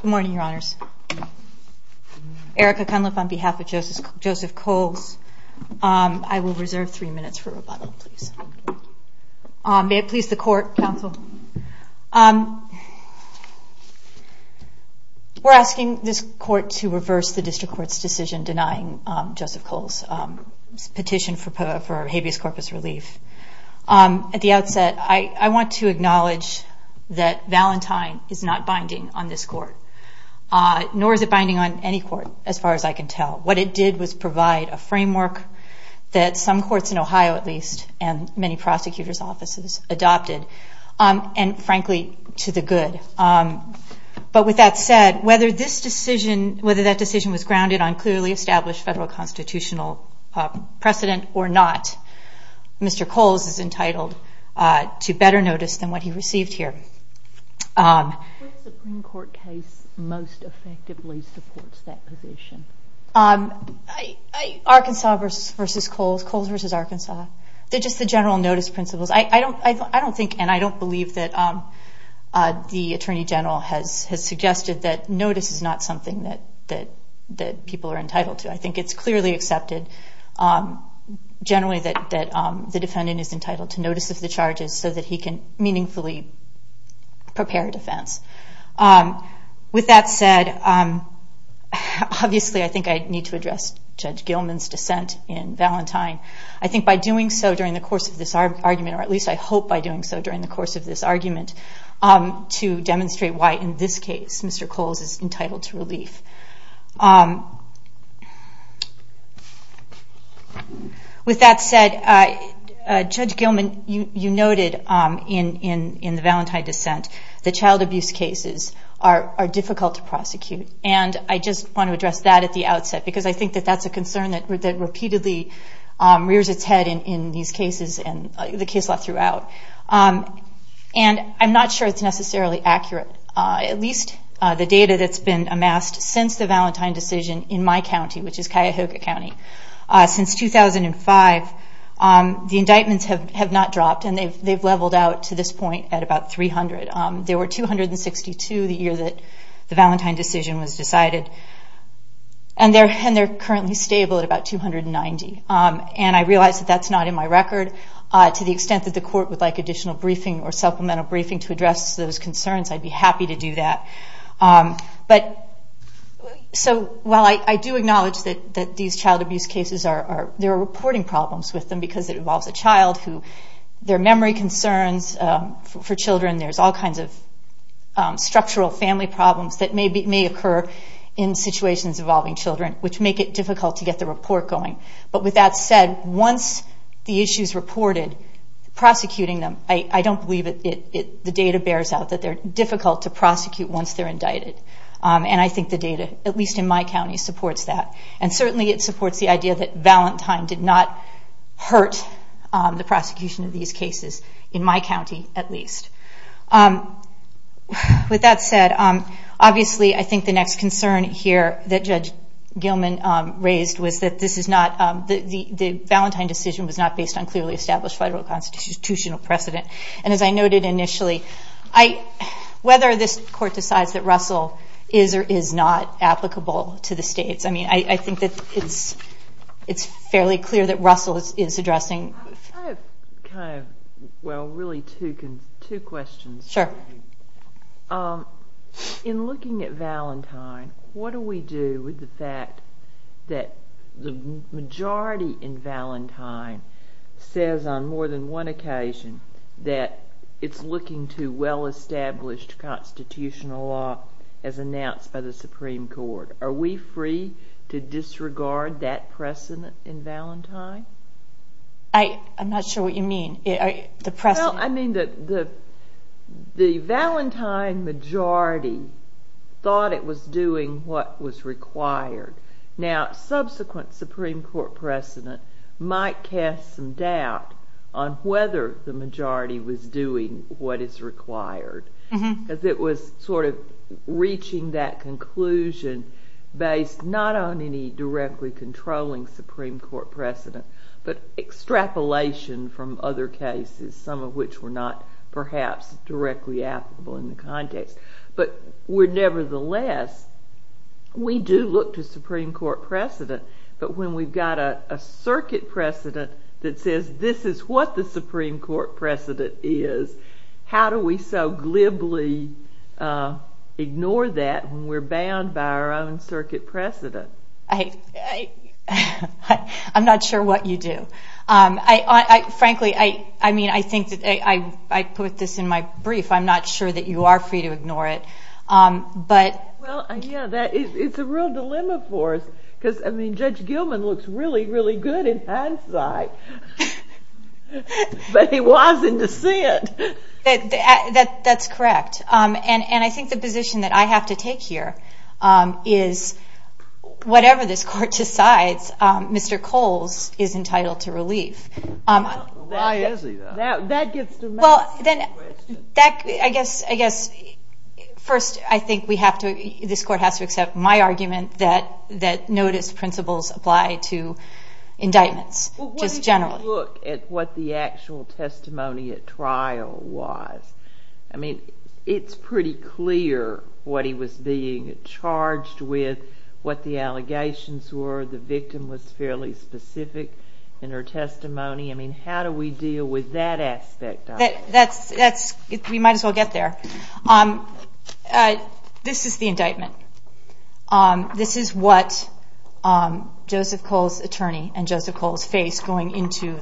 Good morning, your honors. Erica Cunliffe on behalf of Joseph Coles. I will reserve We're asking this court to reverse the district court's decision denying Joseph Coles' petition for habeas corpus relief. At the outset, I want to acknowledge that Valentine is not binding on this court, nor is it binding on any court, as far as I can tell. What it did was provide a framework that some courts in Ohio, at least, and many prosecutor's offices adopted, and frankly, to the good. But with that said, whether that decision was grounded on clearly established federal constitutional precedent or not, Mr. Coles is entitled to better notice than what he received here. Arkansas v. Coles, Coles v. Arkansas, they're I don't think and I don't believe that the attorney general has suggested that notice is not something that people are entitled to. I think it's clearly accepted, generally, that the defendant is entitled to notice of the charges so that he can meaningfully prepare defense. With that said, obviously, I think I need to address Judge Gilman's dissent in Valentine. I hope by doing so during the course of this argument, to demonstrate why in this case, Mr. Coles is entitled to relief. With that said, Judge Gilman, you noted in the Valentine dissent, that child abuse cases are difficult to prosecute. And I just want to address that at the outset, because I think that that's a concern that repeatedly rears its head in these cases, the case law throughout. And I'm not sure it's necessarily accurate. At least the data that's been amassed since the Valentine decision in my county, which is Cuyahoga County, since 2005, the indictments have not dropped and they've leveled out to this point at about 300. There were 262 the year that the Valentine decision was decided. And they're currently stable at about 290. And I realize that that's not in my record. To the extent that the court would like additional briefing or supplemental briefing to address those concerns, I'd be happy to do that. While I do acknowledge that these child abuse cases, there are reporting problems with them, because it involves a child. There are memory concerns for children. There's all kinds of structural family problems that may occur in situations involving children, which make it But with that said, once the issue is reported, prosecuting them, I don't believe the data bears out that they're difficult to prosecute once they're indicted. And I think the data, at least in my county, supports that. And certainly it supports the idea that Valentine did not hurt the prosecution of these cases, in my county at least. With that said, obviously I think the next concern here that Judge Gilman raised was that this is the Valentine decision was not based on clearly established federal constitutional precedent. And as I noted initially, whether this court decides that Russell is or is not applicable to the states, I mean, I think that it's fairly clear that Russell is addressing I have kind of, well, really two questions. Sure. In looking at Valentine, what do we do with the fact that the majority in Valentine says on more than one occasion that it's looking to well-established constitutional law as announced by the Supreme Court? Are we free to disregard that precedent in Valentine? I'm not sure what you mean, the precedent. I mean, the Valentine majority thought it was doing what was required. Now, subsequent Supreme Court precedent might cast some doubt on whether the majority was doing what is required. Because it was sort of reaching that conclusion based not on any directly controlling Supreme Court precedent, but extrapolation from other cases, some of which were not perhaps directly applicable in the context. But nevertheless, we do look to Supreme Court precedent. But when we've got a circuit precedent that says this is what the Supreme Court precedent is, how do we so glibly ignore that when we're bound by our own circuit precedent? I'm not sure what you do. Frankly, I mean, I think that I put this in my brief. I'm not sure that you are free to ignore it. But... Well, yeah, it's a real dilemma for us. Because, I mean, Judge Gilman looks really, really good in hindsight. But he was in dissent. That's correct. And I think the position that I have to take here is whatever this holds is entitled to relief. Why is he, though? That gets to me. Well, then, I guess, first, I think we have to, this Court has to accept my argument that notice principles apply to indictments, just generally. Well, when you look at what the actual testimony at trial was, I mean, it's pretty clear what was being charged with, what the allegations were. The victim was fairly specific in her testimony. I mean, how do we deal with that aspect? We might as well get there. This is the indictment. This is what Joseph Cole's attorney and Joseph Cole's face going into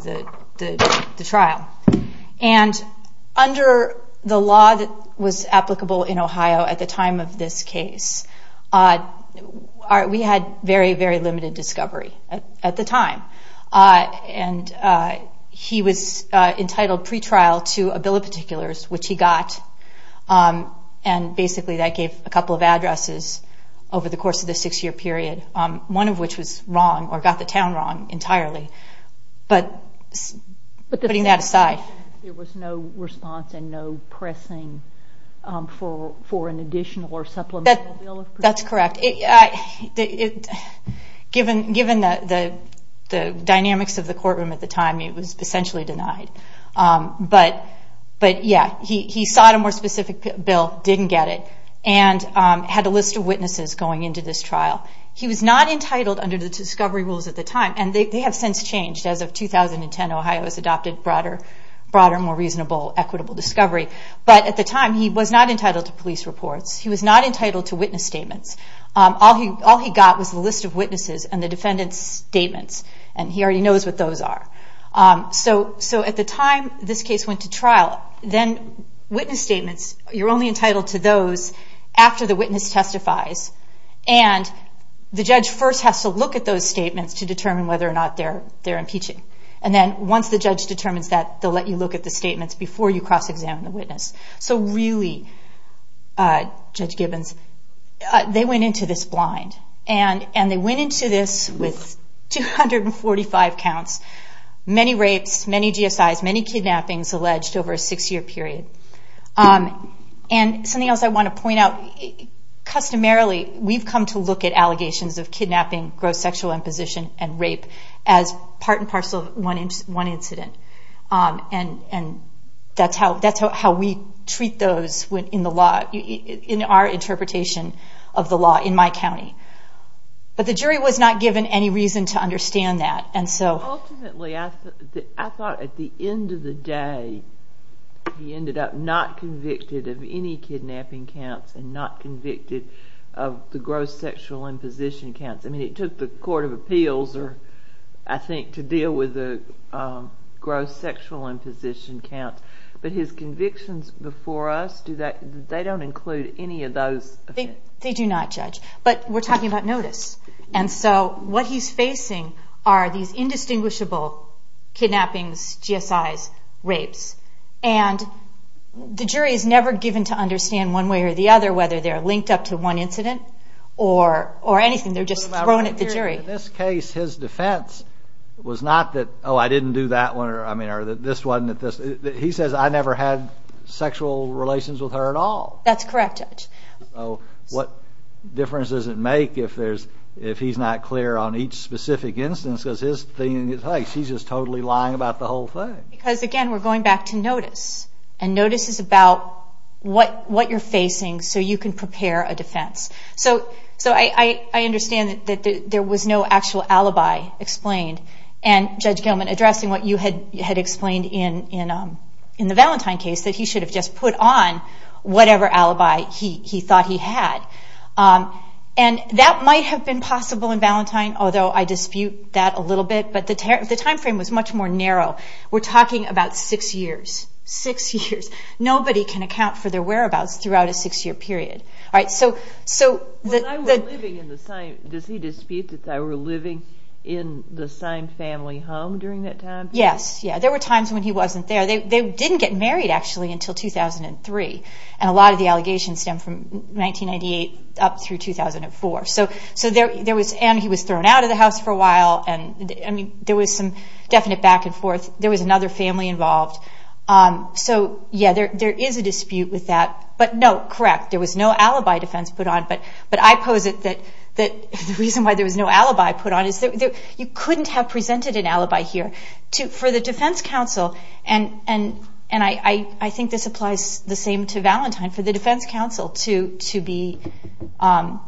the trial. And under the law that was applicable in Ohio at the time of this case, we had very, very limited discovery at the time. And he was entitled pretrial to a bill of particulars, which he got. And basically, that gave a couple of addresses over the course of the six-year period, one of which was wrong or got the town wrong entirely. But putting that aside... For an additional or supplemental bill? That's correct. Given the dynamics of the courtroom at the time, it was essentially denied. But yeah, he sought a more specific bill, didn't get it, and had a list of witnesses going into this trial. He was not entitled under the discovery rules at the time. And they have since changed. As of 2010, Ohio has adopted broader, more reasonable, equitable discovery. But at the time, he was not entitled to police reports. He was not entitled to witness statements. All he got was the list of witnesses and the defendant's statements. And he already knows what those are. So at the time this case went to trial, then witness statements, you're only entitled to those after the witness testifies. And the judge first has to look at those statements to determine whether or not they're impeaching. And then once the judge determines that, they'll let you look at the statements before you cross-examine the witness. So really, Judge Gibbons, they went into this blind. And they went into this with 245 counts, many rapes, many GSIs, many kidnappings alleged over a six-year period. And something else I want to point out, customarily, we've come to look at allegations of kidnapping, gross sexual imposition, and rape as part and parcel of one incident. And that's how we treat those in our interpretation of the law in my county. But the jury was not given any reason to understand that. Ultimately, I thought at the end of the day, he ended up not convicted of any kidnapping counts and not convicted of the gross sexual imposition counts. I mean, it took the Court of Appeals, I think, to deal with the gross sexual imposition counts. But his convictions before us, they don't include any of those. They do not, Judge. But we're talking about notice. And so what he's facing are these indistinguishable kidnappings, GSIs, rapes. And the jury is never given to understand one way or the other whether they're linked up to one incident or anything. They're just thrown at the jury. In this case, his defense was not that, oh, I didn't do that one or this one. He says, I never had sexual relations with her at all. That's correct, Judge. So what difference does it make if he's not clear on each specific instance? Because his thing is, hey, she's just totally lying about the whole thing. Because again, we're going back to notice. And notice is about what you're facing so you can prepare a defense. So I understand that there was no actual alibi explained. And, Judge Gilman, addressing what you had explained in the Valentine case, that he should have just put on whatever alibi he thought he had. And that might have been possible in Valentine, although I dispute that a little bit. But the time frame was much more narrow. We're talking about six years. Six years. Nobody can account for their whereabouts throughout a six-year period. When I was living in the same, does he dispute that I was living in the same family home during that time? Yes. There were times when he wasn't there. They didn't get married, actually, until 2003. And a lot of the allegations stem from 1998 up through 2004. And he was thrown out of the house for a while. There was some definite back and forth. There was another family involved. So yeah, there is a dispute with that. But no, correct, there was no alibi defense put on. But I pose it that the reason why there was no alibi put on is that you couldn't have presented an alibi here. For the defense counsel, and I think this applies the same to Valentine, for the defense counsel to be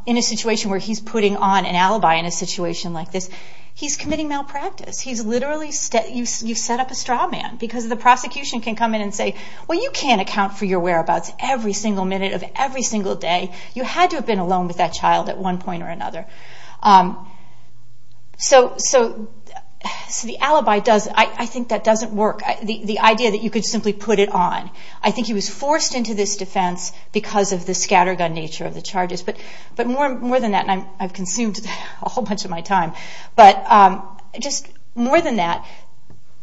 in a situation where he's putting on an alibi in a situation like this, he's committing malpractice. He's literally, you set up a straw man because the prosecution can come in and say, well, you can't account for your whereabouts every single minute of every single day. You had to have been alone with that child at one point or another. So the alibi does, I think that doesn't work. The idea that you could simply put it on. I think he was forced into this defense because of the scattergun nature of the charges. But more than that, and I've consumed a whole bunch of my time, but just more than that,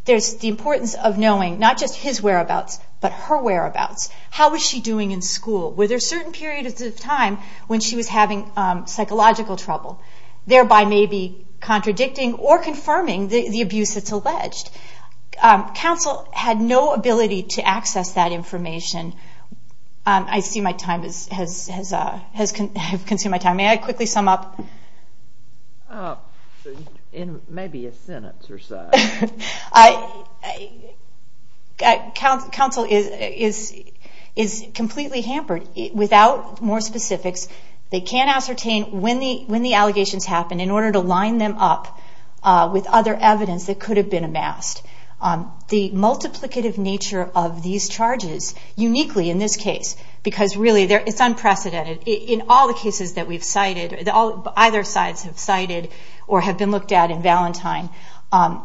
there's the importance of knowing not just his whereabouts, but her whereabouts. How was she doing in school? Were there certain periods of time when she was having psychological trouble, thereby maybe contradicting or confirming the abuse that's alleged? Counsel had no ability to access that information. I see my time has consumed my time. May I quickly sum up? In maybe a sentence or so. Counsel is completely hampered. Without more specifics, they can't ascertain when the the multiplicative nature of these charges, uniquely in this case, because really it's unprecedented. In all the cases that we've cited, either sides have cited or have been looked at in Valentine,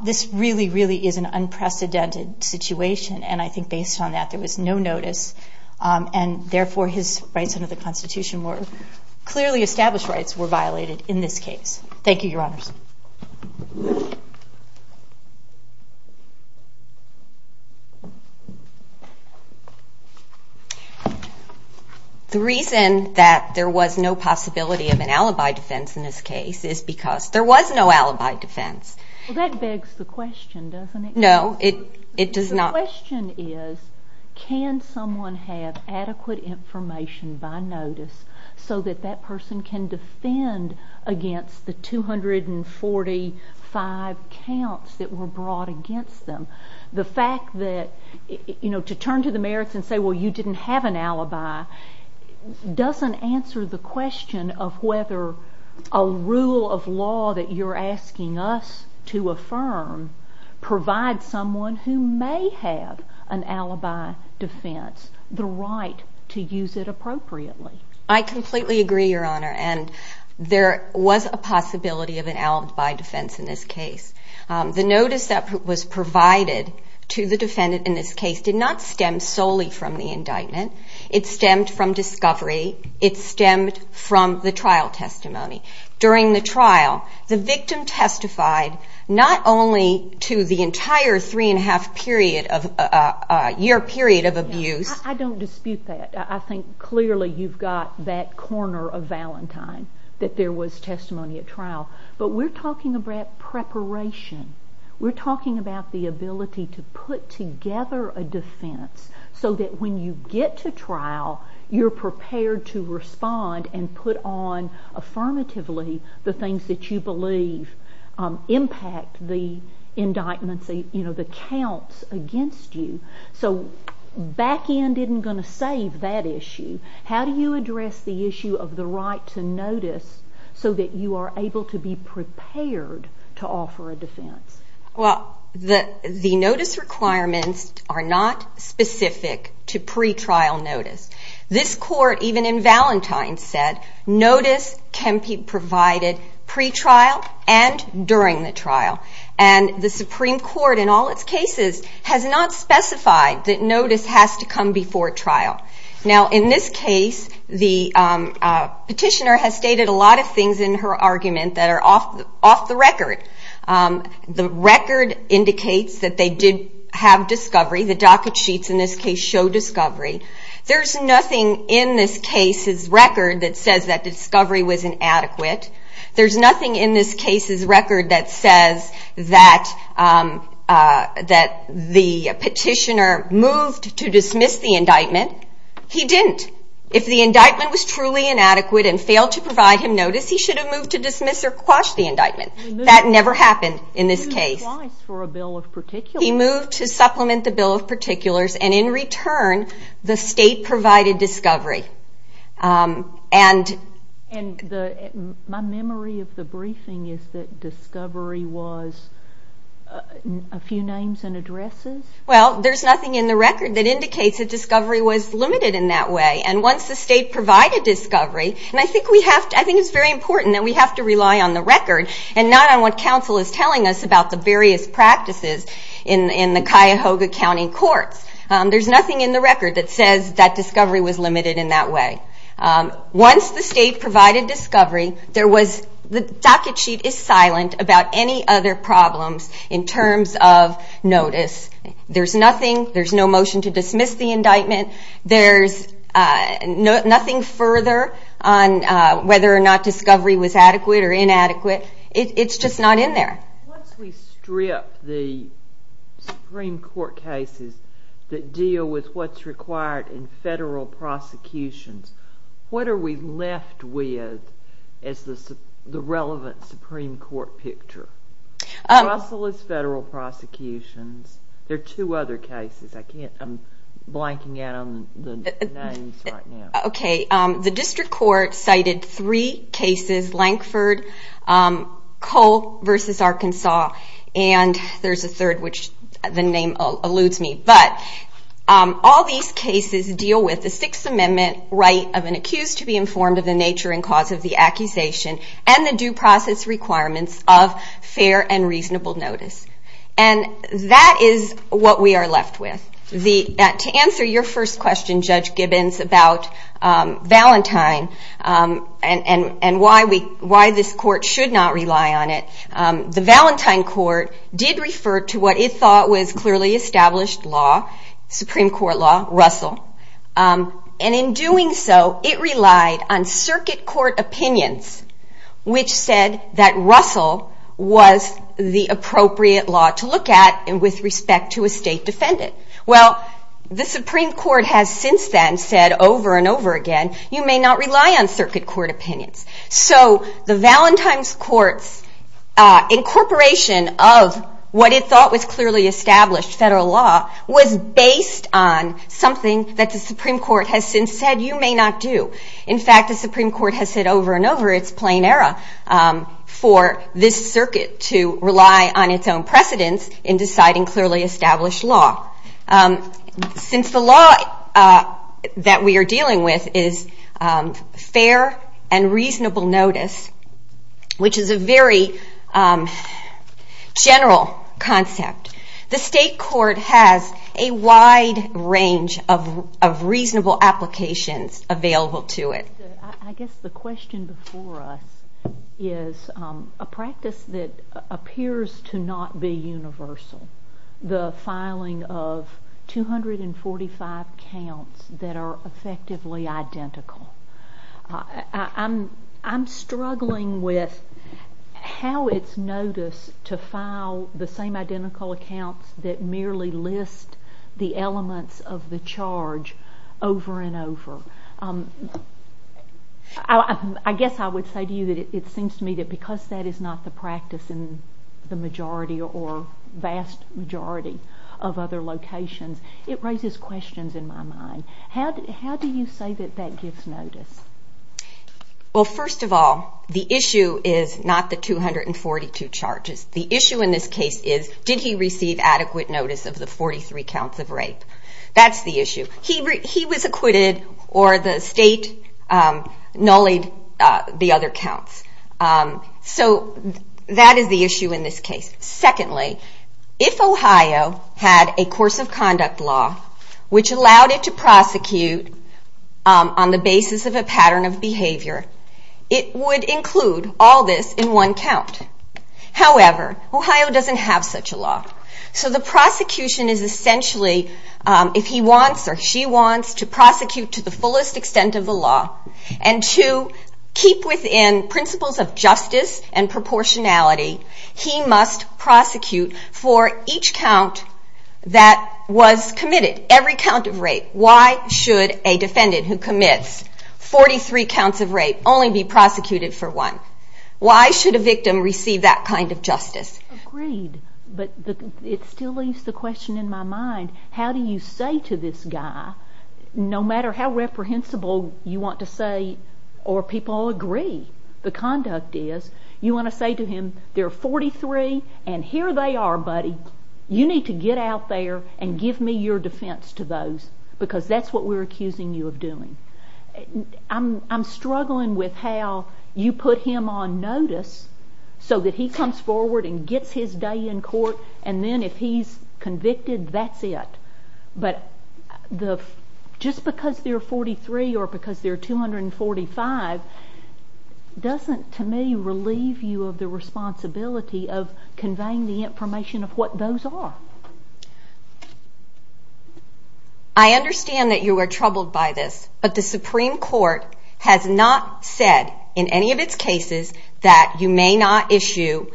this really, really is an unprecedented situation. And I think based on that, there was no notice. And therefore his rights under the constitution were clearly established rights were violated in this case. Thank you, your honors. The reason that there was no possibility of an alibi defense in this case is because there was no alibi defense. Well, that begs the question, doesn't it? No, it does not. The question is, can someone have adequate information by notice so that that person can defend against the 245 counts that were brought against them? The fact that, you know, to turn to the merits and say, well, you didn't have an alibi doesn't answer the question of whether a rule of law that you're asking us to affirm provides someone who may have an alibi defense the right to use it appropriately. I completely agree, your honor. And there was a possibility of an alibi defense in this case. The notice that was provided to the defendant in this case did not stem solely from the indictment. It stemmed from discovery. It stemmed from the trial testimony. During the trial, the victim testified not only to the entire three and a half year period of abuse. I don't dispute that. I think clearly you've got that corner of Valentine, that there was testimony at trial. But we're talking about preparation. We're talking about the ability to put together a defense so that when you get to trial, you're prepared to respond and put on affirmatively the things that you believe impact the indictments, you know, the counts against you. So back end isn't going to save that issue. How do you address the issue of the right to notice so that you are able to be prepared to offer a defense? Well, the notice requirements are not specific to pre-trial notice. This court, even in Valentine, said notice can be provided pre-trial and during the trial. And the Supreme Court in all its cases has not specified that notice has to come before trial. Now in this case, the petitioner has stated a lot of things in her argument that are off the record. The record indicates that they did have discovery. The docket sheets in this case show discovery. There's nothing in this case's record that says that discovery was inadequate. There's nothing in this case's record that says that the petitioner moved to dismiss the indictment. He didn't. If the indictment was truly inadequate and failed to provide him notice, he should have moved to dismiss or quash the indictment. That never happened in this case. He moved to supplement the bill of particulars and in return, the state provided discovery. And my memory of the briefing is that discovery was a few names and addresses? Well, there's nothing in the record that indicates that discovery was limited in that way. And once the state provided discovery, and I think it's very important that we have to rely on the record and not on what counsel is telling us about the various practices in the Cuyahoga County Courts. There's nothing in the record that says that discovery was limited in that way. Once the state provided discovery, the docket sheet is silent about any other problems in terms of notice. There's nothing. There's no motion to dismiss the indictment. There's nothing further on whether or not discovery was adequate or inadequate. It's just not in there. Once we strip the Supreme Court cases that deal with what's required in federal prosecutions, what are we left with as the relevant Supreme Court picture? Russell is federal prosecutions. There are two other cases. I'm blanking out on the names right now. Cole v. Arkansas, and there's a third which the name alludes me. But all these cases deal with the Sixth Amendment right of an accused to be informed of the nature and cause of the accusation and the due process requirements of fair and reasonable notice. And that is what we should not rely on. The Valentine Court did refer to what it thought was clearly established law, Supreme Court law, Russell. And in doing so, it relied on circuit court opinions which said that Russell was the appropriate law to look at with respect to a state defendant. Well, the Supreme Court has since then said over and over again, you may not rely on circuit court opinions. So the Valentine's Court's incorporation of what it thought was clearly established federal law was based on something that the Supreme Court has since said you may not do. In fact, the Supreme Court has said over and over, it's plain error for this circuit to rely on its own precedence in deciding clearly established law. Since the law that we are dealing with is fair and reasonable notice, which is a very general concept, the state court has a wide range of reasonable applications available to it. I guess the question before us is a practice that appears to not be universal. The filing of 245 counts that are effectively identical. I'm struggling with how it's noticed to file the same identical accounts that merely list the elements of the charge over and over. I guess I would say to you that it seems to me that because that is not the practice in the majority or vast majority of other locations, it raises questions in my mind. How do you say that that gives notice? Well, first of all, the issue is not the 242 charges. The issue in this case is, did he receive adequate notice of the 43 counts of rape? That's the issue. He was acquitted or the state the other counts. So that is the issue in this case. Secondly, if Ohio had a course of conduct law which allowed it to prosecute on the basis of a pattern of behavior, it would include all this in one count. However, Ohio doesn't have such a law. So the prosecution is essentially if he wants or she wants to prosecute to the fullest extent of the law and to keep within principles of justice and proportionality, he must prosecute for each count that was committed, every count of rape. Why should a defendant who commits 43 counts of rape only be prosecuted for one? Why should a victim receive that kind of justice? Agreed, but it still leaves the question in my mind. How do you say to this guy, no matter how reprehensible you want to say or people agree the conduct is, you want to say to him, they're 43 and here they are, buddy. You need to get out there and give me your defense to those because that's what we're accusing you of doing. I'm struggling with how you put him on notice so that he comes forward and gets his day in court and then if he's convicted, that's it. But just because they're 43 or because they're 245, doesn't to me relieve you of the responsibility of conveying the information of what those are. I understand that you are troubled by this, but the Supreme Court has not said in any of its cases that you may not issue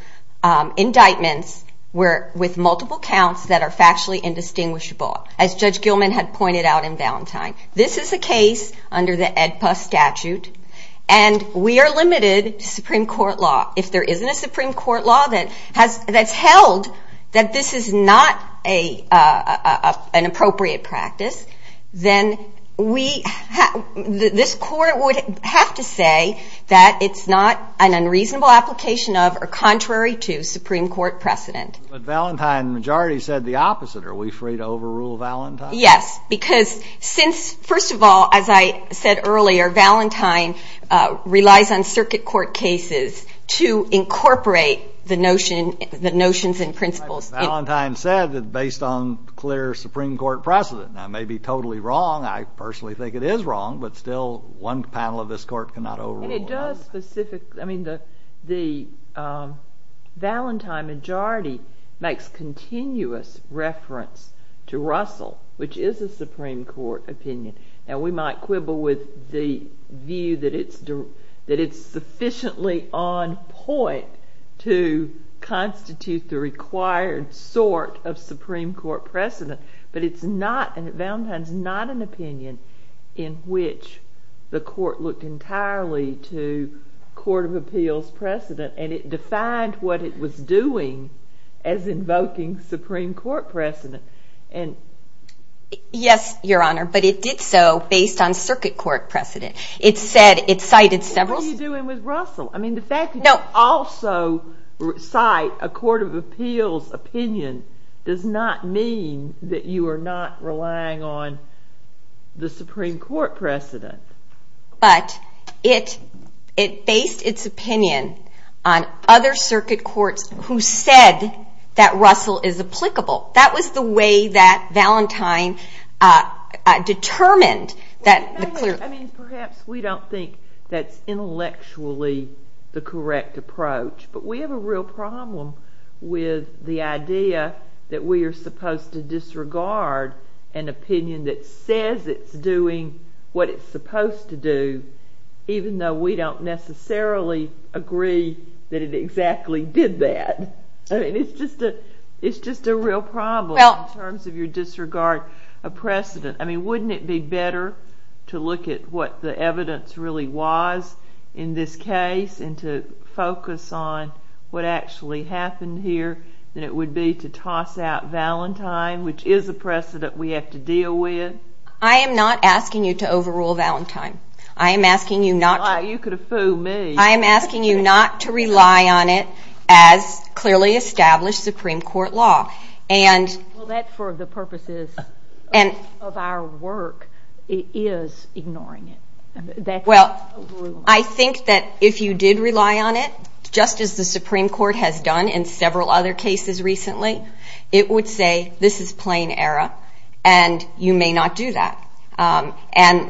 indictments with multiple counts that are factually indistinguishable, as Judge Gilman had pointed out in Valentine. This is a case under the AEDPA statute and we are limited to Supreme Court law. If there isn't a Supreme Court law that's held that this is not a, an appropriate practice, then we, this court would have to say that it's not an unreasonable application of or contrary to Supreme Court precedent. But Valentine majority said the opposite. Are we free to overrule Valentine? Yes, because since, first of all, as I said earlier, Valentine relies on circuit court cases to incorporate the notion, the notions and principles. Valentine said that based on clear Supreme Court precedent, that may be totally wrong. I personally think it is wrong, but still one panel of this court cannot overrule. And it does specific, I mean the, the Valentine majority makes continuous reference to Russell, which is a Supreme Court opinion. Now we might quibble with the view that it's, that it's sufficiently on point to constitute the required sort of Supreme Court precedent, but it's not, and Valentine's not an opinion in which the court looked entirely to court of appeals precedent and it defined what it was doing as invoking Supreme Court precedent. And. Yes, Your Honor, but it did so based on circuit court precedent. It said it cited several. What are you doing with Russell? I mean, the fact that you also cite a court of appeals opinion does not mean that you are not relying on the Supreme Court precedent. But it, it based its opinion on other circuit courts who said that Russell is applicable. That was the way that Valentine determined that. I mean, perhaps we don't think that's intellectually the correct approach, but we have a real problem with the idea that we are supposed to disregard an opinion that agrees that it exactly did that. I mean, it's just a, it's just a real problem in terms of your disregard of precedent. I mean, wouldn't it be better to look at what the evidence really was in this case and to focus on what actually happened here than it would be to toss out Valentine, which is a precedent we have to deal with. I am not asking you to overrule Valentine. I am asking you not to rely on it as clearly established Supreme Court law. And that for the purposes of our work is ignoring it. Well, I think that if you did rely on it, just as the Supreme Court has done in several other cases recently, it would say this is plain error and you may not do that. Do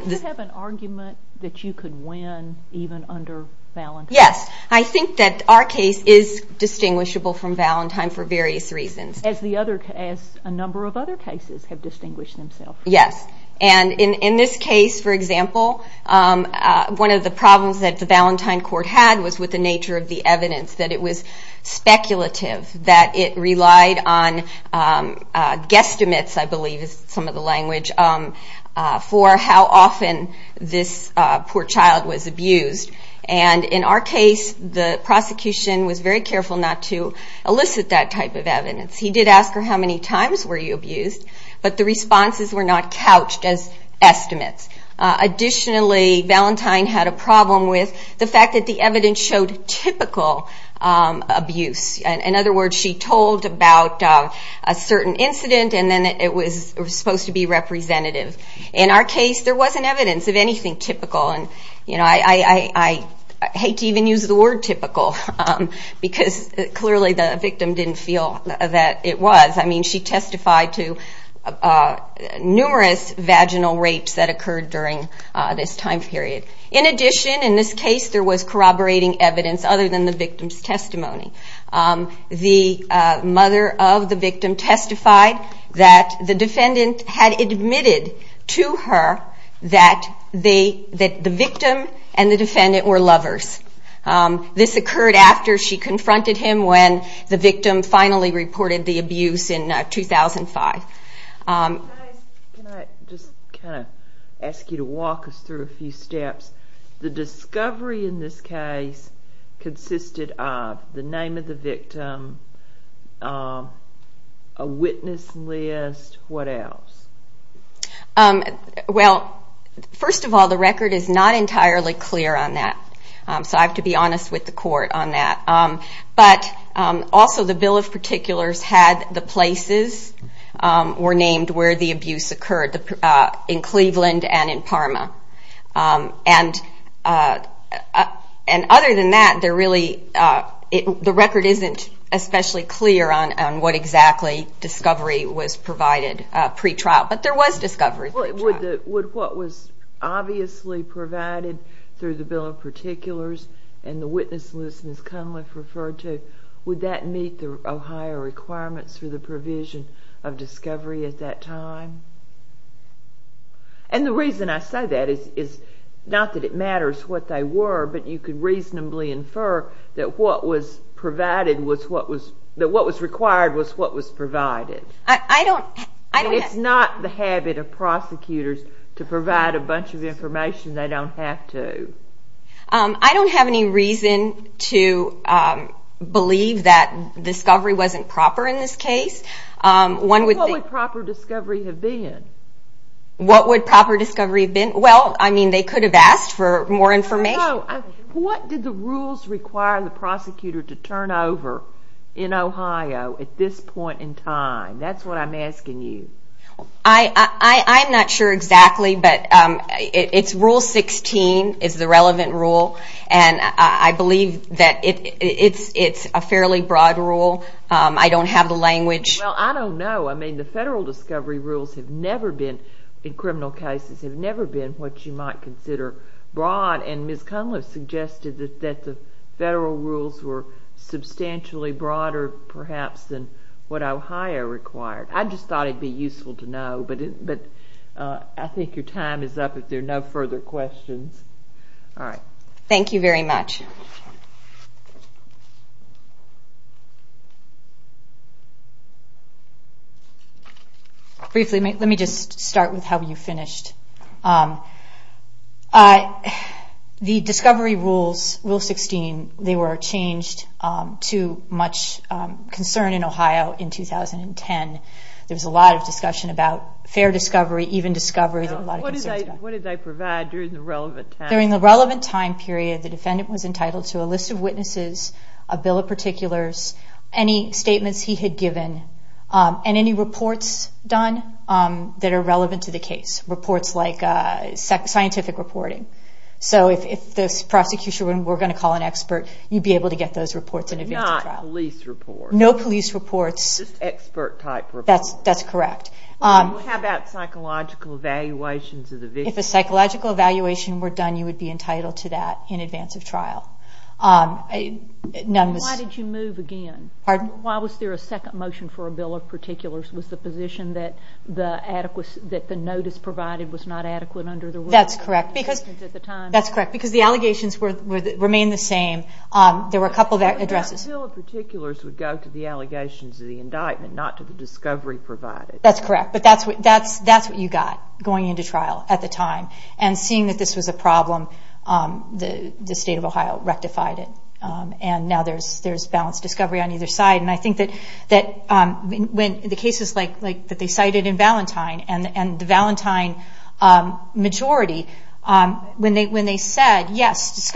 you have an argument that you could win even under Valentine? Yes. I think that our case is distinguishable from Valentine for various reasons. As the other, as a number of other cases have distinguished themselves. Yes. And in this case, for example, one of the problems that the Valentine Court had was with the nature of the evidence, that it was speculative, that it relied on guesstimates, I believe is some of the language, for how often this poor child was abused. And in our case, the prosecution was very careful not to elicit that type of evidence. He did ask her, how many times were you abused? But the responses were not couched as estimates. Additionally, Valentine had a problem with the fact that the evidence showed typical abuse. In other words, she told about a certain incident and then it was supposed to be representative. In our case, there wasn't evidence of anything typical. And I hate to even use the word typical because clearly the victim didn't feel that it was. I mean, she testified to numerous vaginal rapes that occurred during this time period. In addition, in this case, there was corroborating evidence other than the victim's testimony. The mother of the victim testified that the defendant had admitted to her that the victim and the defendant were lovers. This occurred after she confronted him when the victim finally reported the abuse in 2005. Can I just kind of ask you to walk us through a few steps? The discovery in this case consisted of the name of the victim, a witness list, what else? Well, first of all, the record is not entirely clear on that. So I have to be honest with the were named where the abuse occurred, in Cleveland and in Parma. And other than that, the record isn't especially clear on what exactly discovery was provided pre-trial. But there was discovery pre-trial. Would what was obviously provided through the Bill of Particulars and the witness list Ms. Cunliffe referred to, would that meet the Ohio requirements for the provision of discovery at that time? And the reason I say that is not that it matters what they were, but you could reasonably infer that what was provided was what was, that what was required was what was provided. It's not the habit of prosecutors to provide a bunch of information they don't have to. I don't have any reason to believe that discovery wasn't proper in this case. What would proper discovery have been? What would proper discovery have been? Well, I mean, they could have asked for more information. What did the rules require the prosecutor to turn over in Ohio at this point in time? That's what I'm asking you. I'm not sure exactly, but it's rule 16 is the relevant rule. And I believe that it's a fairly broad rule. I don't have the language. Well, I don't know. I mean, the federal discovery rules have never been, in criminal cases, have never been what you might consider broad. And Ms. Cunliffe suggested that the federal rules were substantially broader, perhaps, than what Ohio required. I just thought it'd be useful to know, but I think your time is up if there are no further questions. All right. Thank you very much. Briefly, let me just start with how you finished. I, the discovery rules, rule 16, they were changed to much concern in Ohio in 2010. There was a lot of discussion about fair discovery, even discovery. Now, what did they provide during the relevant time? During the relevant time period, the defendant was entitled to a list of witnesses, a bill of particulars, any statements he had given, and any reports done that are relevant to the case, reports like scientific reporting. So if the prosecution were going to call an expert, you'd be able to get those reports in advance of trial. Not police reports. No police reports. Just expert-type reports. That's correct. How about psychological evaluations of the victim? If a psychological evaluation were done, you would be entitled to that in advance of trial. None was... Why did you move again? Pardon? Why was there a second motion for a bill of particulars? Was the position that the notice provided was not adequate under the rules? That's correct. That's correct. Because the allegations remained the same. There were a couple of addresses... The bill of particulars would go to the allegations of the indictment, not to the discovery provided. That's correct. But that's what you got going into trial at the time. And seeing that this was a problem, the state of Ohio rectified it. And now there's balanced discovery on either side. I think that the cases that they cited in Valentine and the Valentine majority, when they said, yes,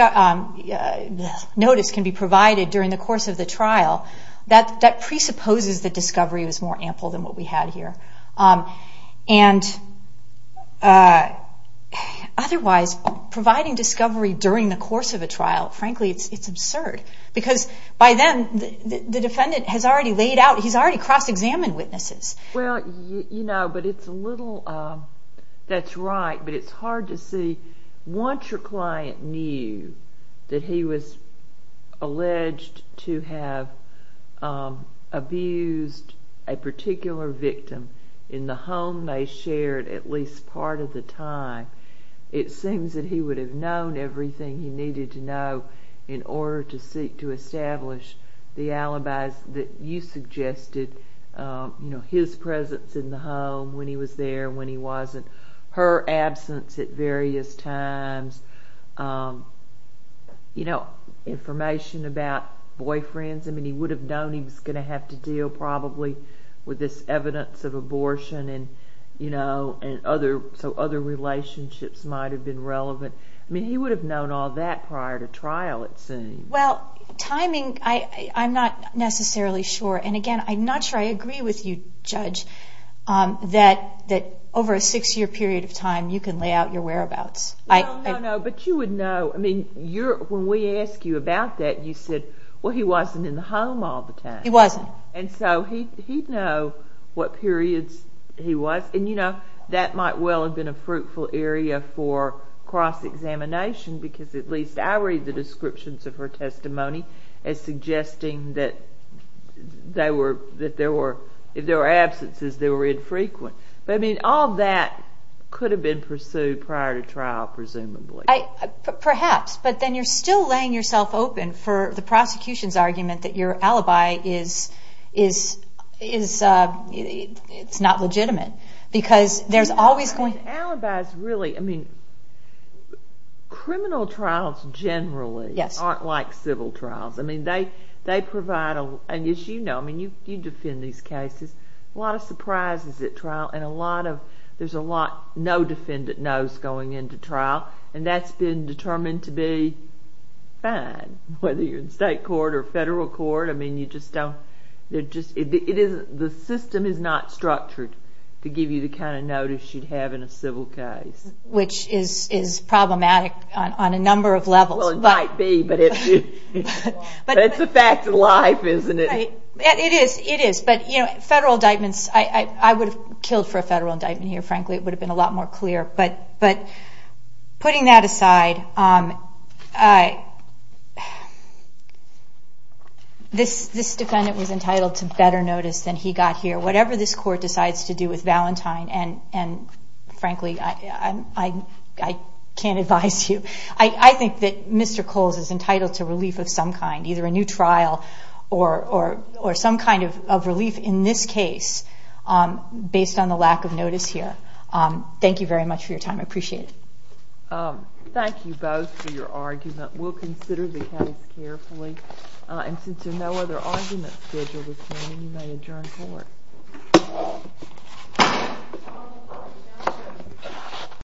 notice can be provided during the course of the trial, that presupposes that discovery was more ample than what we had here. Otherwise, providing discovery during the course of a trial, frankly, it's absurd. Because by then, the defendant has already laid out, he's already cross-examined witnesses. Well, you know, but it's a little... That's right, but it's hard to see. Once your client knew that he was alleged to have abused a particular victim in the home they shared at least part of the time, it seems that he would have known everything he needed to know in order to seek to establish the alibis that you suggested. You know, his presence in the home when he was there, when he wasn't, her absence at various times, you know, information about boyfriends. I mean, he would have known he was going to have to deal probably with this evidence of abortion and, you know, so other relationships might have been relevant. I mean, he would have known all that prior to trial, it seems. Well, timing, I'm not necessarily sure. And again, I'm not sure I agree with you, Judge, that over a six-year period of time, you can lay out your whereabouts. No, no, no, but you would know. I mean, when we asked you about that, you said, well, he wasn't in the home all the time. He wasn't. And so he'd know what periods he was. And, you know, that might well have been a fruitful area for cross-examination because at least I read the descriptions of her testimony as suggesting that if there were absences, they were infrequent. But I mean, all that could have been pursued prior to trial, presumably. Perhaps, but then you're still laying yourself open for the prosecution's argument that your alibi is not legitimate. Because there's always going to be- Alibis really, I mean, criminal trials generally aren't like civil trials. I mean, they provide, and as you know, I mean, you defend these cases, a lot of surprises at trial and a lot of, there's a lot no defendant knows going into trial. And that's been determined to be fine. Whether you're in state court or federal court, I mean, you just don't, the system is not structured to give you the kind of notice you'd have in a civil case. Which is problematic on a number of levels. Well, it might be, but it's a fact of life, isn't it? It is, it is. But, you know, federal indictments, I would have killed for a federal indictment here, frankly, it would have been a lot more clear. But putting that aside, this defendant was entitled to better notice than he got here. Whatever this court decides to do with Valentine, and frankly, I can't advise you. I think that Mr. Coles is entitled to relief of some kind. Either a new trial or some kind of relief in this case based on the lack of notice here. Thank you very much for your time. I appreciate it. Thank you both for your argument. We'll consider the case carefully. And since there are no other arguments scheduled this morning, you may adjourn court.